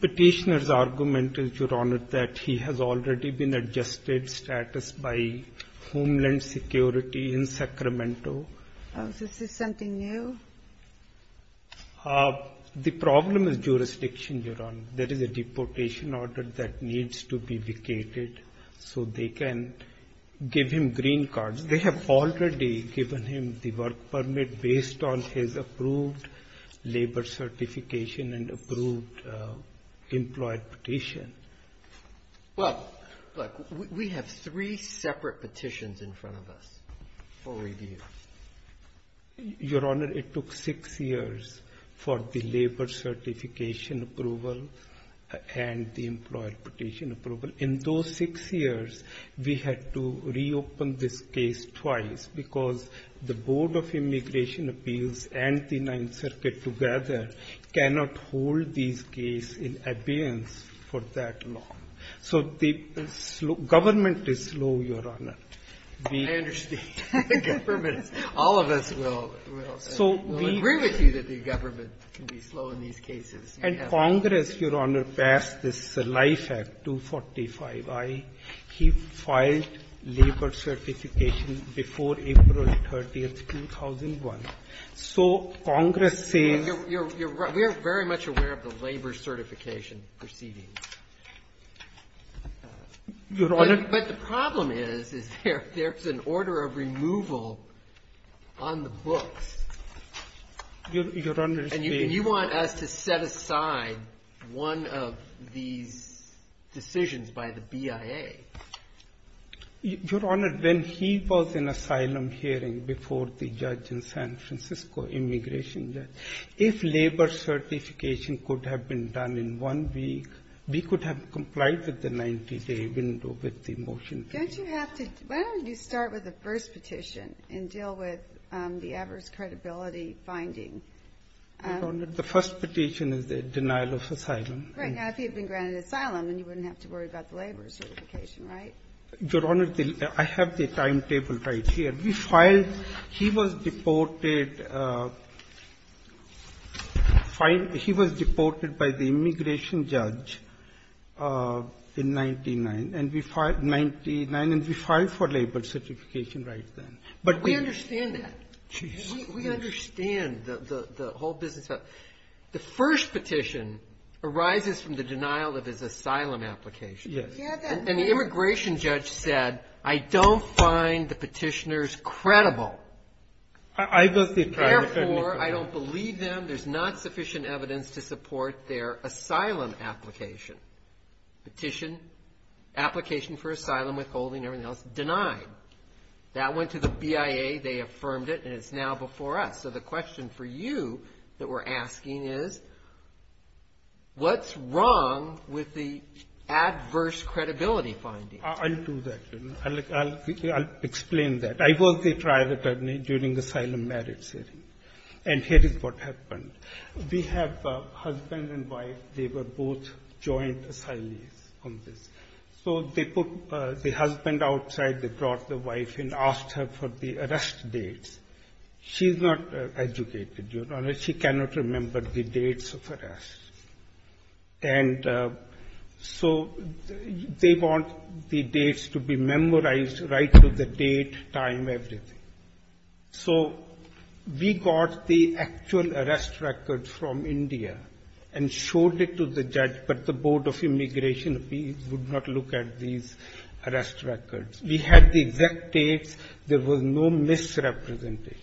Petitioner's argument is, Your Honor, that he has already been adjusted status by Homeland Security in Sacramento. Oh, so this is something new? The problem is jurisdiction, Your Honor. There is a deportation order that needs to be vacated so they can give him green cards. They have already given him the work permit based on his approved labor certification and approved employee petition. Well, look, we have three separate petitions in front of us for review. Your Honor, it took six years for the labor certification approval and the employee petition approval. In those six years, we had to reopen this case twice because the Board of Immigration So the government is slow, Your Honor. I understand. All of us will agree with you that the government can be slow in these cases. And Congress, Your Honor, passed this LIFE Act 245i. He filed labor certification before April 30th, 2001. So Congress says you're right. We are very much aware of the labor certification proceedings. But the problem is, is there's an order of removal on the books. And you want us to set aside one of these decisions by the BIA. Your Honor, when he was in asylum hearing before the judge in San Francisco, immigration judge, if labor certification could have been done in one week, we could have complied with the 90-day window with the motion. Don't you have to? Why don't you start with the first petition and deal with the adverse credibility finding? Your Honor, the first petition is the denial of asylum. Right. Now, if he had been granted asylum, then you wouldn't have to worry about the labor certification, right? Your Honor, I have the timetable right here. He was deported by the immigration judge in 1999, and we filed for labor certification right then. But we understand that. We understand the whole business. The first petition arises from the denial of his asylum application. Yes. And the immigration judge said, I don't find the petitioners credible. Therefore, I don't believe them. There's not sufficient evidence to support their asylum application. Petition, application for asylum, withholding, everything else, denied. That went to the BIA. They affirmed it, and it's now before us. So the question for you that we're asking is, what's wrong with the adverse credibility finding? I'll do that, Your Honor. I'll explain that. I was the trial attorney during the asylum merits hearing, and here is what happened. We have husband and wife. They were both joint asylees on this. So they put the husband outside, they brought the wife in, asked her for the arrest dates. She's not educated, Your Honor. She cannot remember the dates of arrest. And so they want the dates to be memorized right to the date, time, everything. So we got the actual arrest record from India and showed it to the judge, but the Board of Immigration, we would not look at these arrest records. We had the exact dates. There was no misrepresentation.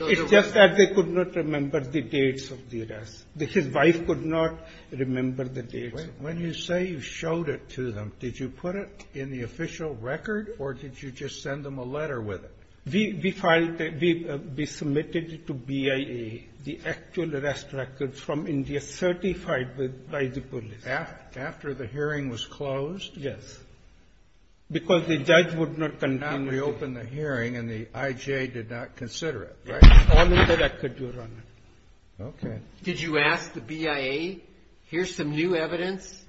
It's just that they could not remember the dates of the arrest. His wife could not remember the dates. When you say you showed it to them, did you put it in the official record, or did you just send them a letter with it? We filed it. We submitted it to BIA, the actual arrest record from India certified by the police. After the hearing was closed? Yes. Because the judge would not continue to do it. Now we open the hearing and the I.J. did not consider it, right? All in the record, Your Honor. Okay. Did you ask the BIA, here's some new evidence,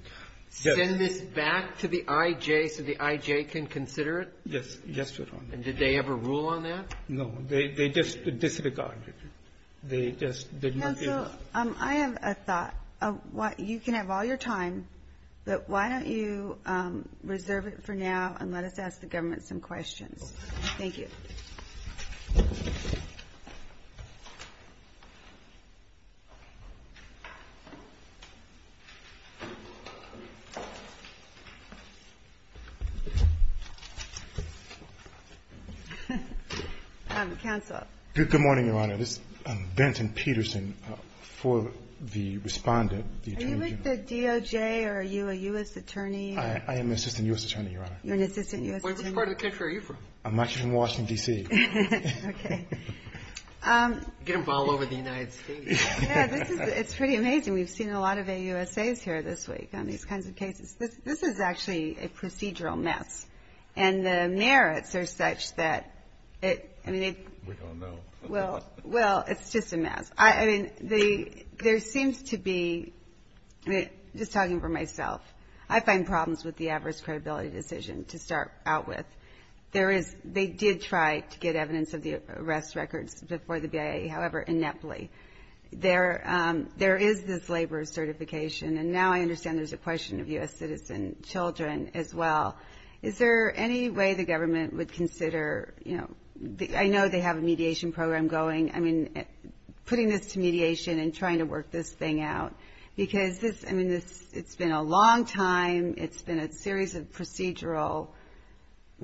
send this back to the I.J. so the I.J. can consider it? Yes. Yes, Your Honor. And did they ever rule on that? No. They just disregarded it. They just did not do that. I have a thought. You can have all your time, but why don't you reserve it for now and let us ask the government some questions. Thank you. Counsel. Good morning, Your Honor. This is Benton Peterson for the respondent. Are you with the DOJ or are you a U.S. attorney? I am an assistant U.S. attorney, Your Honor. You're an assistant U.S. attorney? Which part of the country are you from? I'm actually from Washington, D.C. Okay. You're going to fall over the United States. Yes, it's pretty amazing. We've seen a lot of AUSAs here this week on these kinds of cases. This is actually a procedural mess. And the merits are such that it, I mean, it. We don't know. Well, it's just a mess. I mean, there seems to be, just talking for myself, I find problems with the adverse credibility decision to start out with. There is, they did try to get evidence of the arrest records before the BIA, however, ineptly. There is this labor certification, and now I understand there's a question of U.S. citizen children as well. Is there any way the government would consider, you know, I know they have a mediation program going. I mean, putting this to mediation and trying to work this thing out, because this, I mean, it's been a long time. It's been a series of procedural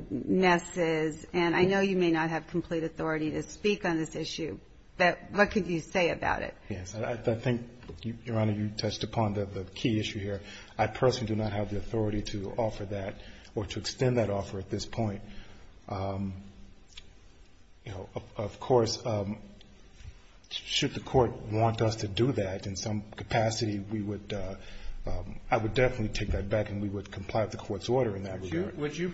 messes, and I know you may not have complete authority to speak on this issue, but what could you say about it? Yes, I think, Your Honor, you touched upon the key issue here. I personally do not have the authority to offer that or to extend that offer at this point. You know, of course, should the court want us to do that, in some capacity we would, I would definitely take that back and we would comply with the court's order in that regard. Would you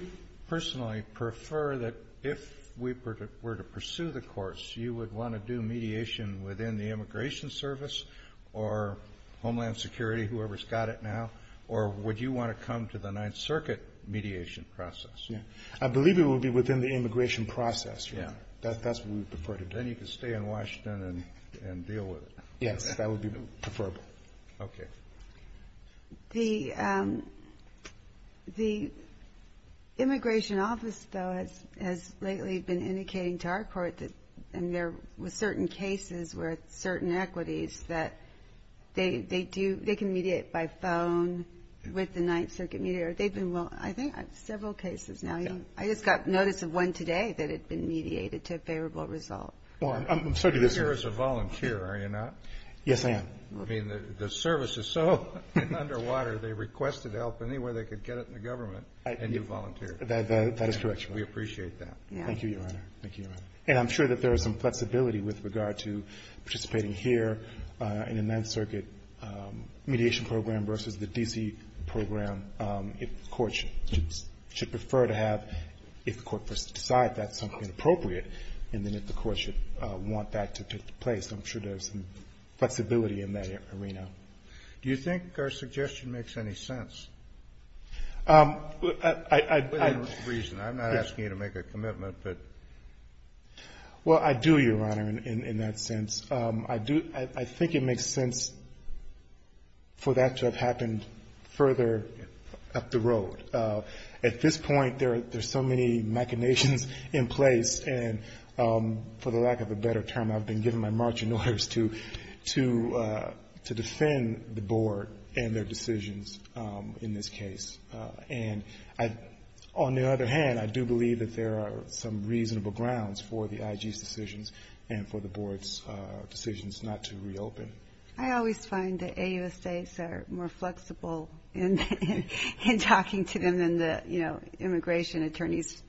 personally prefer that if we were to pursue the course, you would want to do mediation within the Immigration Service or Homeland Security, whoever's got it now, or would you want to come to the Ninth Circuit mediation process? I believe it would be within the immigration process, Your Honor. That's what we'd prefer. Then you could stay in Washington and deal with it. That would be preferable. Okay. The Immigration Office, though, has lately been indicating to our court that there were certain cases where certain equities that they do, they can mediate by phone with the Ninth Circuit mediator. They've been, well, I think several cases now. Okay. I just got notice of one today that had been mediated to a favorable result. Well, I'm sorry to disagree. You're here as a volunteer, are you not? Yes, I am. Okay. I mean, the service is so under water, they requested help any way they could get it in the government, and you volunteered. That is correct, Your Honor. We appreciate that. Thank you, Your Honor. Thank you, Your Honor. And I'm sure that there is some flexibility with regard to participating here in the Ninth Circuit mediation program versus the D.C. program. If the court should prefer to have, if the court decides that's something appropriate, and then if the court should want that to take place, I'm sure there's some flexibility in that arena. Do you think our suggestion makes any sense? I don't reason. I'm not asking you to make a commitment, but. Well, I do, Your Honor, in that sense. I do, I think it makes sense for that to have happened further up the road. At this point, there are so many machinations in place, and for the lack of a better term I've been given my marching orders to defend the board and their decisions in this case. And on the other hand, I do believe that there are some reasonable grounds for the IG's decisions and for the board's decisions not to reopen. I always find the AUSAs are more flexible in talking to them than the, you know, immigration attorneys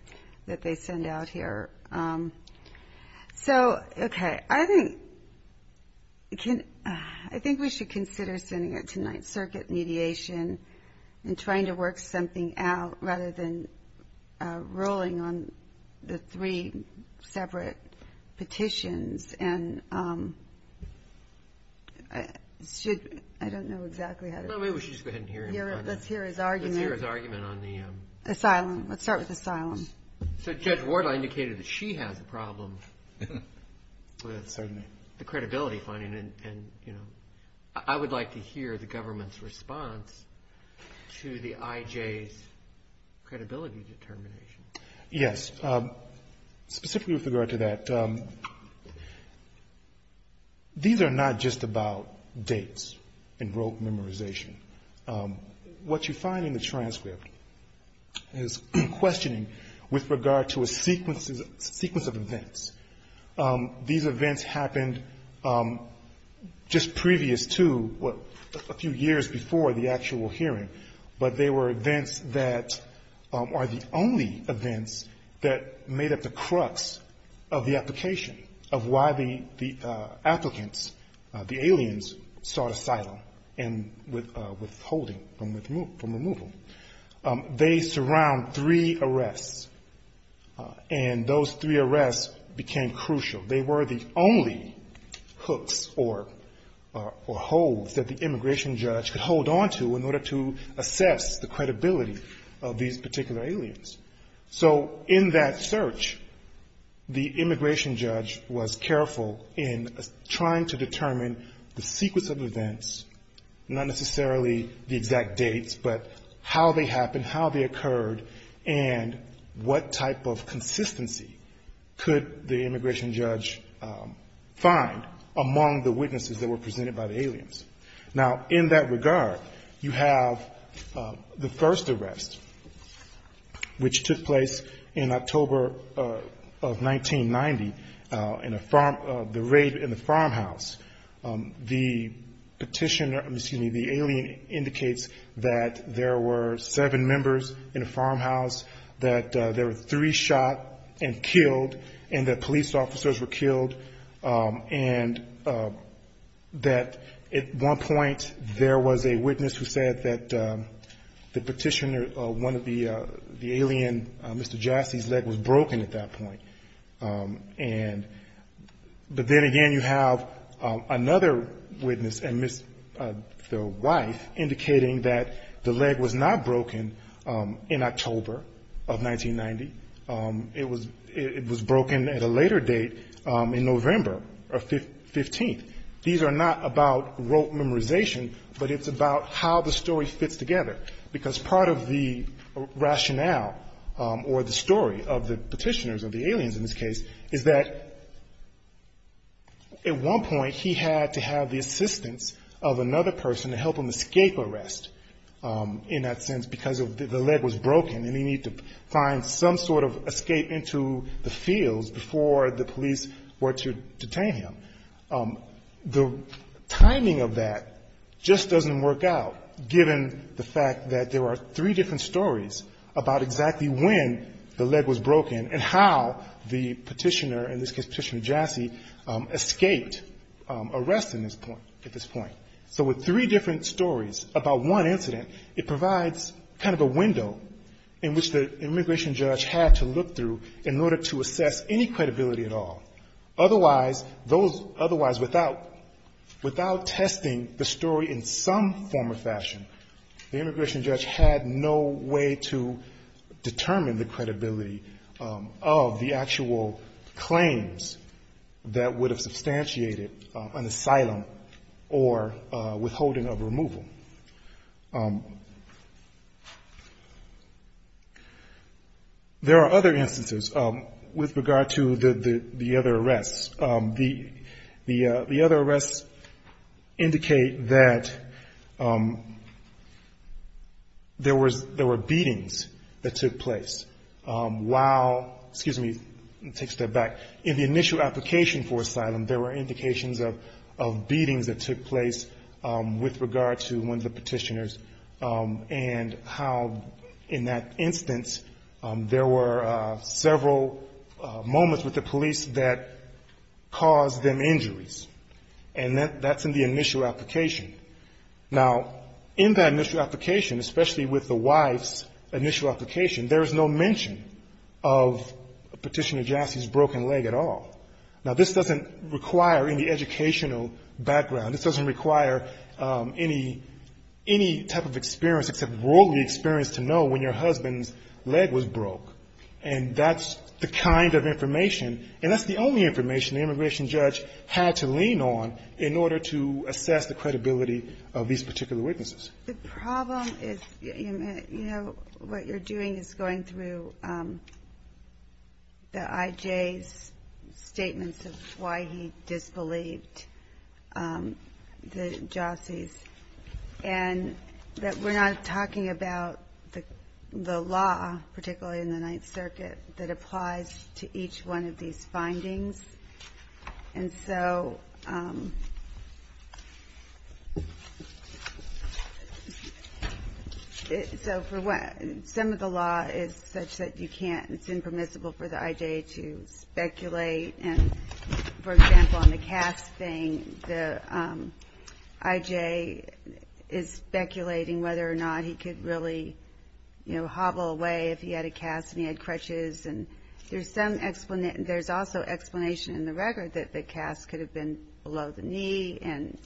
that they send out here. So, okay, I think we should consider sending it to Ninth Circuit mediation and trying to work something out rather than rolling on the three separate petitions. And should, I don't know exactly how to. No, maybe we should just go ahead and hear him. Let's hear his argument. Let's hear his argument on the. Asylum, let's start with asylum. So Judge Wardle indicated that she has a problem with the credibility finding, and, you know, I would like to hear the government's response to the IJ's credibility determination. Yes. Specifically with regard to that, these are not just about dates and rote memorization. What you find in the transcript is questioning with regard to a sequence of events. These events happened just previous to a few years before the actual hearing, but they were events that are the only events that made up the crux of the application of why the applicants, the aliens, sought asylum and withholding from removal. They surround three arrests, and those three arrests became crucial. They were the only hooks or holes that the immigration judge could hold onto in order to assess the credibility of these particular aliens. So in that search, the immigration judge was careful in trying to determine the sequence of events, not necessarily the exact dates, but how they happened, how they occurred, and what type of consistency could the immigration judge find among the witnesses that were presented by the aliens. Now, in that regard, you have the first arrest, which took place in October of 1990 in a farm, the raid in the farmhouse. The petitioner, excuse me, the alien indicates that there were seven members in a farmhouse, that there were three shot and killed, and that police officers were killed, and that at one point there was a witness who said that the petitioner, one of the alien, Mr. Jassy's leg was broken at that point. But then again, you have another witness, the wife, indicating that the leg was not broken in October of 1990. It was broken at a later date in November of 15th. These are not about rote memorization, but it's about how the story fits together, because part of the rationale or the story of the petitioners or the aliens in this case is that at one point he had to have the assistance of another person to help him escape arrest, in that sense, because the leg was broken, and he needed to find some sort of escape into the fields before the police were to detain him. The timing of that just doesn't work out, given the fact that there are three different stories about exactly when the leg was broken, and how the petitioner, in this case Petitioner Jassy, escaped arrest at this point. So with three different stories about one incident, it provides kind of a window in which the immigration judge had to look through in order to assess any credibility at all. Otherwise, without testing the story in some form or fashion, the immigration judge had no way to determine the credibility of the actual claims that would have substantiated an asylum or withholding of removal. There are other instances with regard to the other arrests. The other arrests indicate that there were beatings that took place while in the initial application for asylum, there were indications of beatings that took place with regard to one of the petitioners, and how in that instance there were several moments with the police that caused them injuries. And that's in the initial application. Now, in that initial application, especially with the wife's initial application, there is no mention of Petitioner Jassy's broken leg at all. Now, this doesn't require any educational background. This doesn't require any type of experience except worldly experience to know when your husband's leg was broke. And that's the kind of information, and that's the only information the immigration judge had to lean on in order to assess the credibility of these particular witnesses. The problem is, you know, what you're doing is going through the I.J.'s statements of why he disbelieved the Jassys, and that we're not talking about the law, particularly in the Ninth Circuit, that applies to each one of these findings. And so, some of the law is such that you can't, it's impermissible for the I.J. to speculate. And, for example, on the cast thing, the I.J. is speculating whether or not he could really, you know, hobble away if he had a cast and he had crutches. And there's some explanation, there's also explanation in the record that the cast could have been below the knee and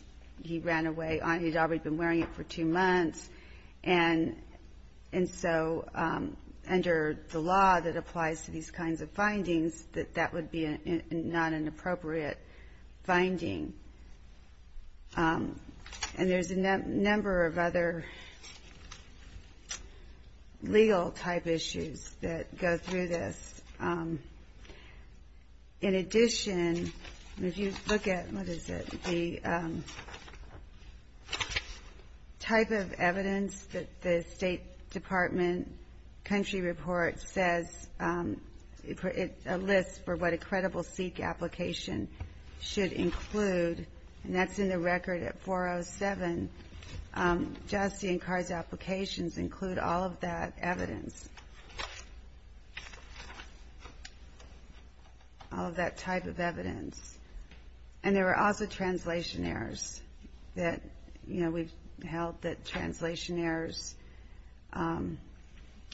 he ran away, he'd already been wearing it for two months. And so, under the law that applies to these kinds of findings, that that would be not an appropriate finding. And there's a number of other legal type issues that, you know, the I.J. has to deal with. And I'm not going to go through this. In addition, if you look at, what is it, the type of evidence that the State Department country report says, a list for what a credible SEEK application should include, and that's in the record at 407, Jassy and Carr's applications include all of that evidence. All of that type of evidence. And there are also translation errors that, you know, we've held that translation errors,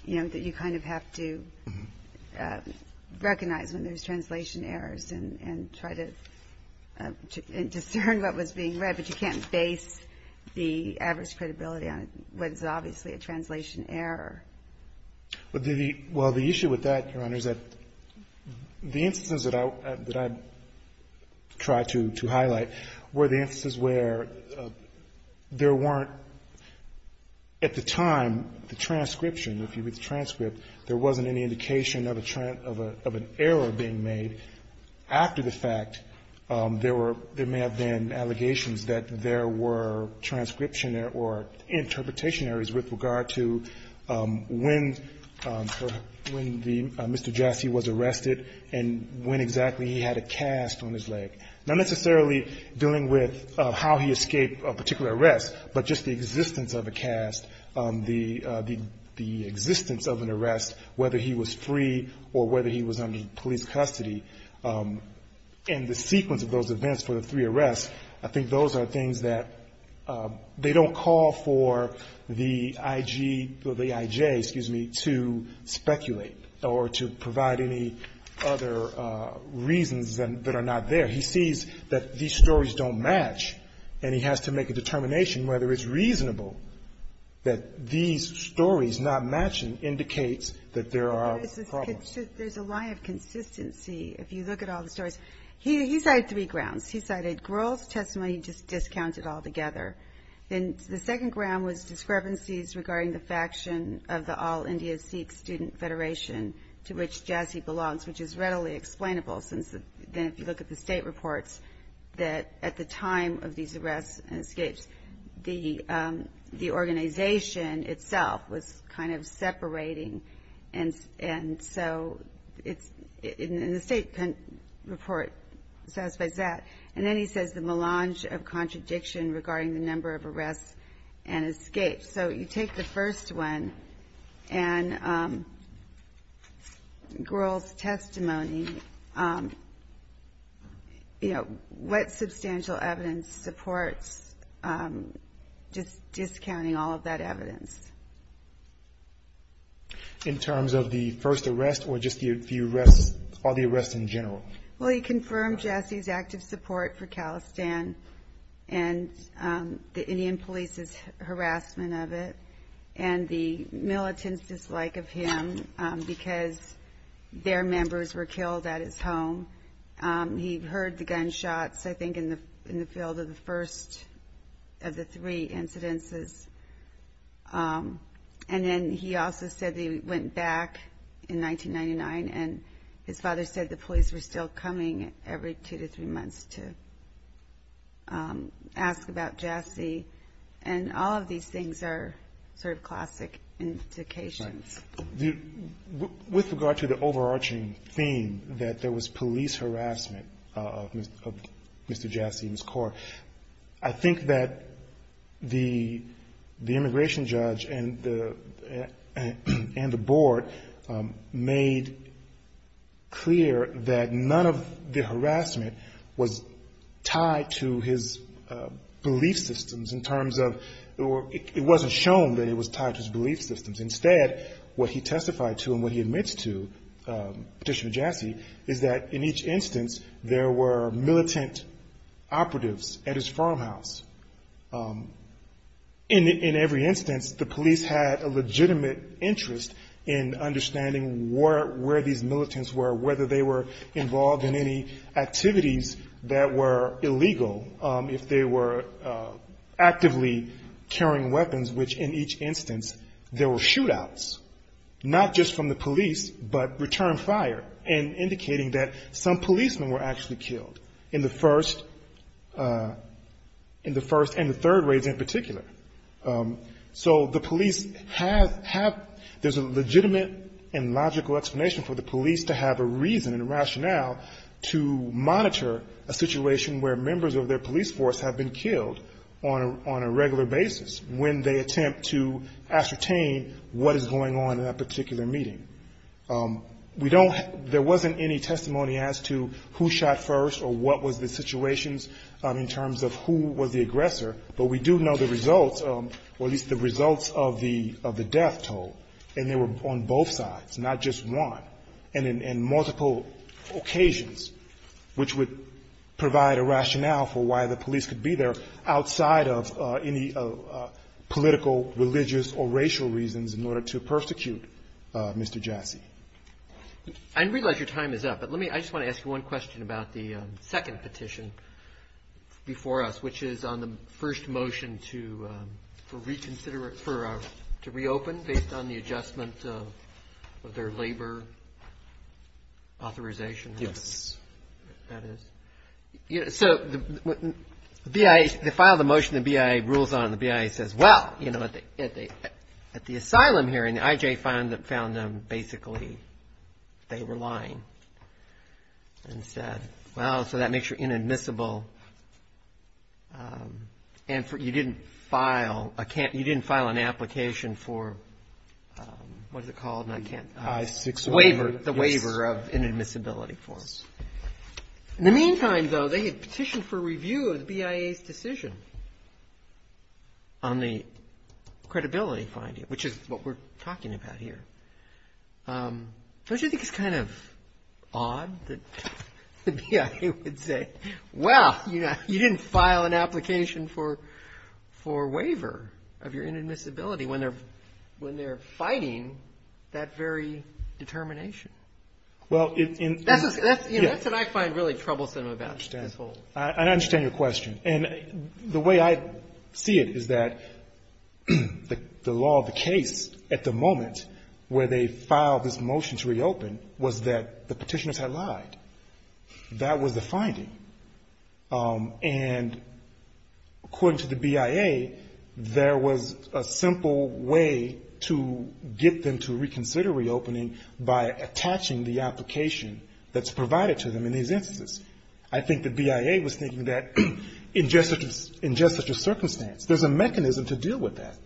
you know, that you kind of have to recognize when there's translation errors and try to discern what was being read, but you can't base the average credibility on what is obviously a translation error. Well, the issue with that, Your Honor, is that the instances that I tried to highlight were the instances where there weren't, at the time, the transcription, if you read the transcript, there wasn't any indication of an error being made after the fact. There may have been allegations that there were transcription or interpretation errors with regard to what was being read. When Mr. Jassy was arrested and when exactly he had a cast on his leg. Not necessarily dealing with how he escaped a particular arrest, but just the existence of a cast, the existence of an arrest, whether he was free or whether he was under police custody, and the sequence of those events for the three arrests, I think those are things that they don't call for the IG, or the IJ, excuse me, to speculate or to provide any other reasons that are not there. He sees that these stories don't match, and he has to make a determination whether it's reasonable that these stories not matching indicates that there are problems. There's a lie of consistency if you look at all the stories. He cited three grounds. He cited girls' testimony, he just discounted all together. Then the second ground was discrepancies regarding the faction of the All India Sikh Student Federation to which Jassy belongs, which is readily explainable, since then if you look at the state reports, that at the time of these arrests and escapes, the organization itself was kind of in support, and then he says the melange of contradiction regarding the number of arrests and escapes. So you take the first one, and girls' testimony, what substantial evidence supports just discounting all of that evidence? In terms of the first arrest, or just the arrests in general? Well, he confirmed Jassy's active support for Khalistan, and the Indian police's harassment of it, and the militants' dislike of him, because their members were killed at his home. He heard the gunshots, I think, in the field of the first of the three incidences. And then he also said that he went back in 1999, and his father said the police were still coming every two to three months to ask about Jassy, and all of these things are sort of classic indications. With regard to the overarching theme that there was police harassment of Mr. Jassy and Ms. Kaur, I think that the immigration judge and the board made clear that none of the harassment was tied to his belief systems in terms of, it wasn't shown that it was tied to his belief systems. Instead, what he testified to and what he admits to, petition to Jassy, is that in each instance there were militant operatives at his home, and that the police had a legitimate interest in understanding where these militants were, whether they were involved in any activities that were illegal, if they were actively carrying weapons, which in each instance there were shootouts, not just from the police, but return fire, and indicating that some policemen were actually killed in the first, in the first and the third raids in particular. So the police have, there's a legitimate and logical explanation for the police to have a reason and a rationale to monitor a situation where members of their police force have been killed on a regular basis, when they attempt to ascertain what is going on in that particular meeting. We don't, there wasn't any testimony as to who shot first or what was the situations in terms of who was the result, or at least the results of the death toll, and they were on both sides, not just one, and in multiple occasions, which would provide a rationale for why the police could be there outside of any political, religious, or racial reasons in order to persecute Mr. Jassy. I realize your time is up, but let me, I just want to ask you one question about the second petition before us, which is on the first one, the motion to reconsider, to reopen based on the adjustment of their labor authorization. Yes. That is, so the BIA, the file of the motion, the BIA rules on it, and the BIA says, well, at the asylum hearing, the IJ found them basically, they were lying, and said, well, so that makes your inadmissible, and you didn't file an application for, what is it called, the waiver of inadmissibility for them. In the meantime, though, they had petitioned for review of the BIA's decision on the credibility finding, which is what we're talking about here. Don't you think it's kind of odd that the BIA would say, well, you didn't file an application for waiver of your inadmissibility, when they're fighting that very determination? That's what I find really troublesome about this whole thing. I understand your question, and the way I see it is that the law of the case at the moment, the law of the case at the moment is that where they filed this motion to reopen was that the petitioners had lied. That was the finding. And according to the BIA, there was a simple way to get them to reconsider reopening by attaching the application that's provided to them in these instances. I think the BIA was thinking that, in just such a circumstance, there's a mechanism to deal with that.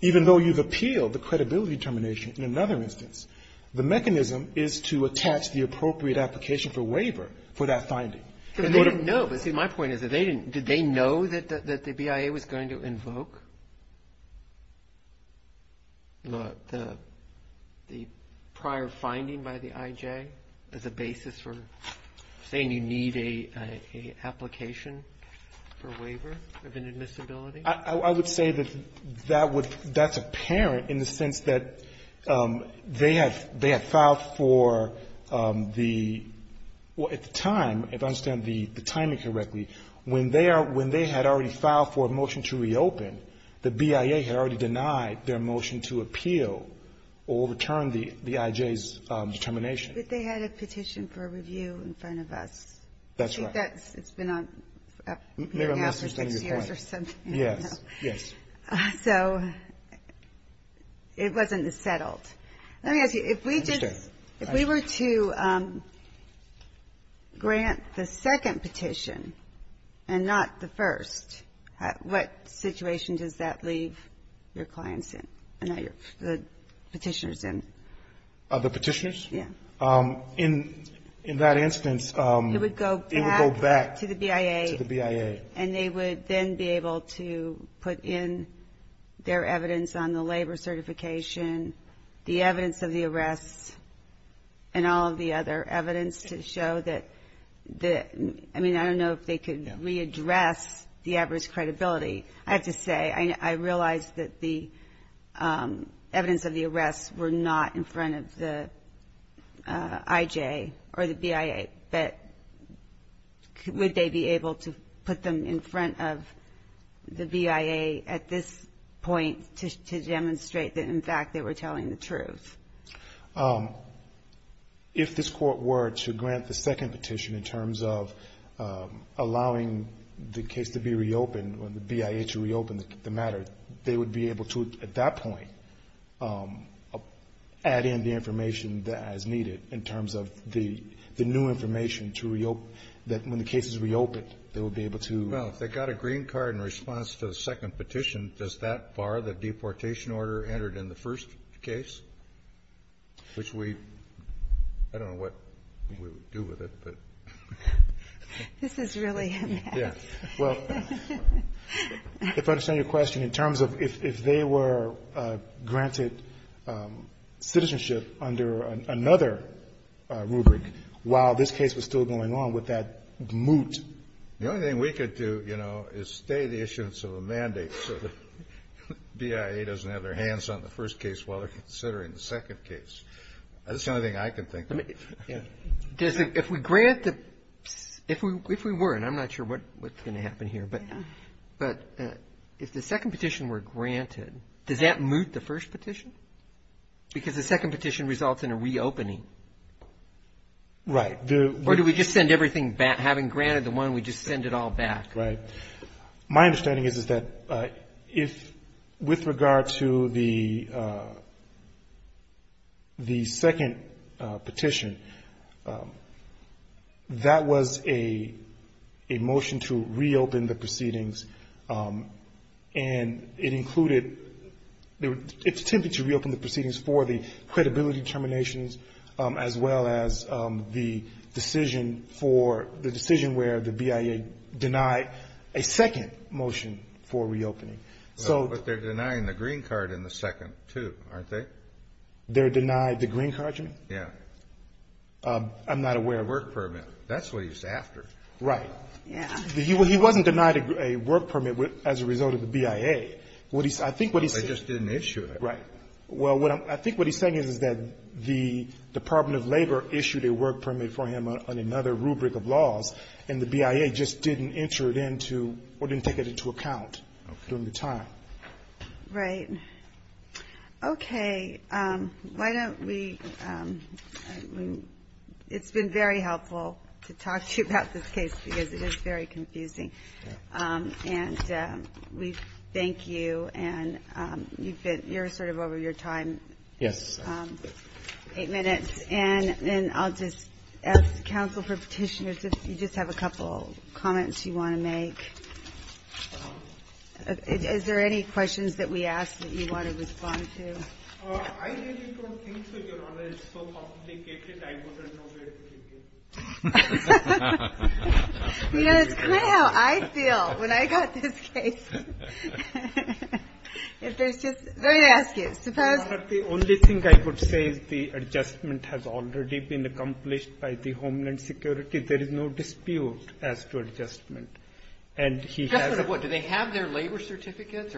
Even though you've repealed the credibility determination in another instance, the mechanism is to attach the appropriate application for waiver for that finding. But they didn't know. My point is, did they know that the BIA was going to invoke the prior finding by the IJ as a basis for saying you need an application for waiver of inadmissibility? I would say that that's apparent in the sense that they had filed for the, at the time, if I understand the timing correctly, when they had already filed for a motion to reopen, the BIA had already denied their motion to appeal or return the IJ's determination. But they had a petition for review in front of us. That's right. It's been up for six years or something. Yes. Yes. So it wasn't as settled. Let me ask you, if we did, if we were to grant the second petition and not the first, what situation does that leave your clients in and the petitioners in? The petitioners? Yeah. In that instance, it would go back to the BIA. And they would then be able to put in their evidence on the labor certification, the evidence of the arrests, and all of the other evidence to show that the, I mean, I don't know if they could readdress the adverse credibility. I have to say, I realized that the evidence of the arrests were not in front of the BIA. But would they be able to put them in front of the BIA at this point to demonstrate that, in fact, they were telling the truth? If this court were to grant the second petition in terms of allowing the case to be reopened, or the BIA to reopen the matter, they would be able to, at that point, add in the information as needed. In terms of the new information to reopen, that when the case is reopened, they would be able to. Well, if they got a green card in response to the second petition, does that bar the deportation order entered in the first case? Which we, I don't know what we would do with it, but. This is really a mess. Yeah. Well, if I understand your question, in terms of if they were granted citizenship under another petition, would they be able to do that rubric while this case was still going on with that moot? The only thing we could do, you know, is stay the issuance of a mandate so that the BIA doesn't have their hands on the first case while they're considering the second case. That's the only thing I can think of. If we grant the, if we were, and I'm not sure what's going to happen here, but if the second petition were granted, does that moot the first petition? Because the second petition results in a reopening. Right. Or do we just send everything back, having granted the one, we just send it all back? Right. My understanding is that if, with regard to the second petition, that was a motion to reopen the proceedings, and it included, it's a motion to reopen the proceedings for the credibility determinations, as well as the decision for, the decision where the BIA denied a second motion for reopening. But they're denying the green card in the second, too, aren't they? They're denying the green card, you mean? Yeah. I'm not aware of a work permit. That's what he's after. Right. Yeah. He wasn't denied a work permit as a result of the BIA. They just didn't issue it. Right. Well, I think what he's saying is that the Department of Labor issued a work permit for him on another rubric of laws, and the BIA just didn't enter it into, or didn't take it into account during the time. Right. Okay. Why don't we, it's been very helpful to talk to you about this case, because it is very confusing. And we thank you, and you've been, you're sort of over your time. Yes. Eight minutes. And I'll just ask counsel for petitioners, if you just have a couple comments you want to make. Is there any questions that we asked that you want to respond to? I really don't think so, Your Honor. It's so complicated, I don't know where to begin. You know, it's kind of how I feel when I got this case. If there's just, let me ask you, suppose... Your Honor, the only thing I would say is the adjustment has already been accomplished by the Homeland Security. There is no dispute as to adjustment. Do they have their labor certificates?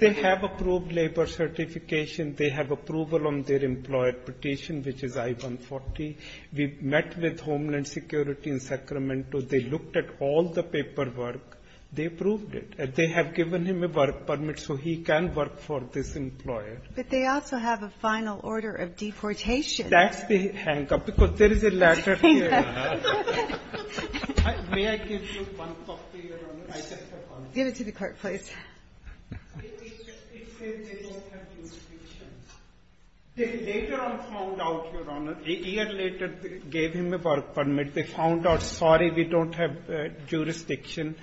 They have approved labor certification. They have approval on their employer petition, which is I-140. We met with Homeland Security in Sacramento. They looked at all the paperwork. They approved it. They have given him a work permit, so he can work for this employer. But they also have a final order of deportation. That's the hang-up, because there is a letter here. May I give you one copy, Your Honor? Give it to the court, please. It says they don't have jurisdiction. They later on found out, Your Honor. A year later, they gave him a work permit. They found out, sorry, we don't have jurisdiction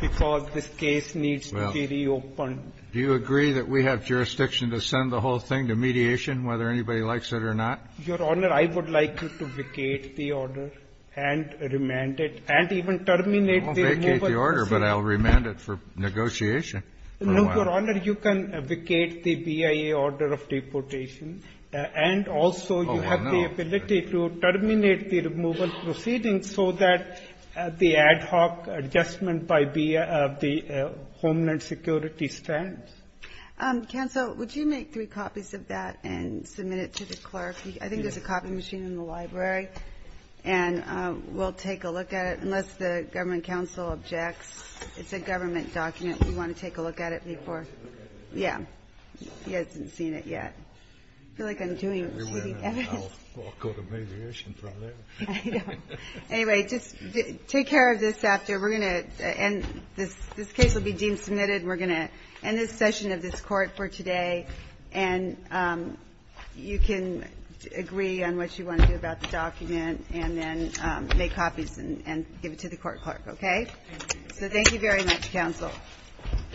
because this case needs to be reopened. Do you agree that we have jurisdiction to send the whole thing to mediation, whether anybody likes it or not? Your Honor, I would like you to vacate the order and remand it, and even terminate the removal proceeding. I won't vacate the order, but I'll remand it for negotiation. No, Your Honor, you can vacate the BIA order of deportation, and also you have the ability to terminate the removal proceeding so that the ad hoc adjustment by the Homeland Security stands. Counsel, would you make three copies of that and submit it to the clerk? I think there's a copy machine in the library, and we'll take a look at it, unless the government counsel objects. It's a government document. We want to take a look at it before. Yeah. He hasn't seen it yet. I feel like I'm doing cheating evidence. I'll go to mediation from there. Anyway, just take care of this after. We're going to end this. This case will be deemed submitted. We're going to end this session of this court for today, and you can agree on what you want to do about the document and then make copies and give it to the court clerk. Okay? So thank you very much, counsel.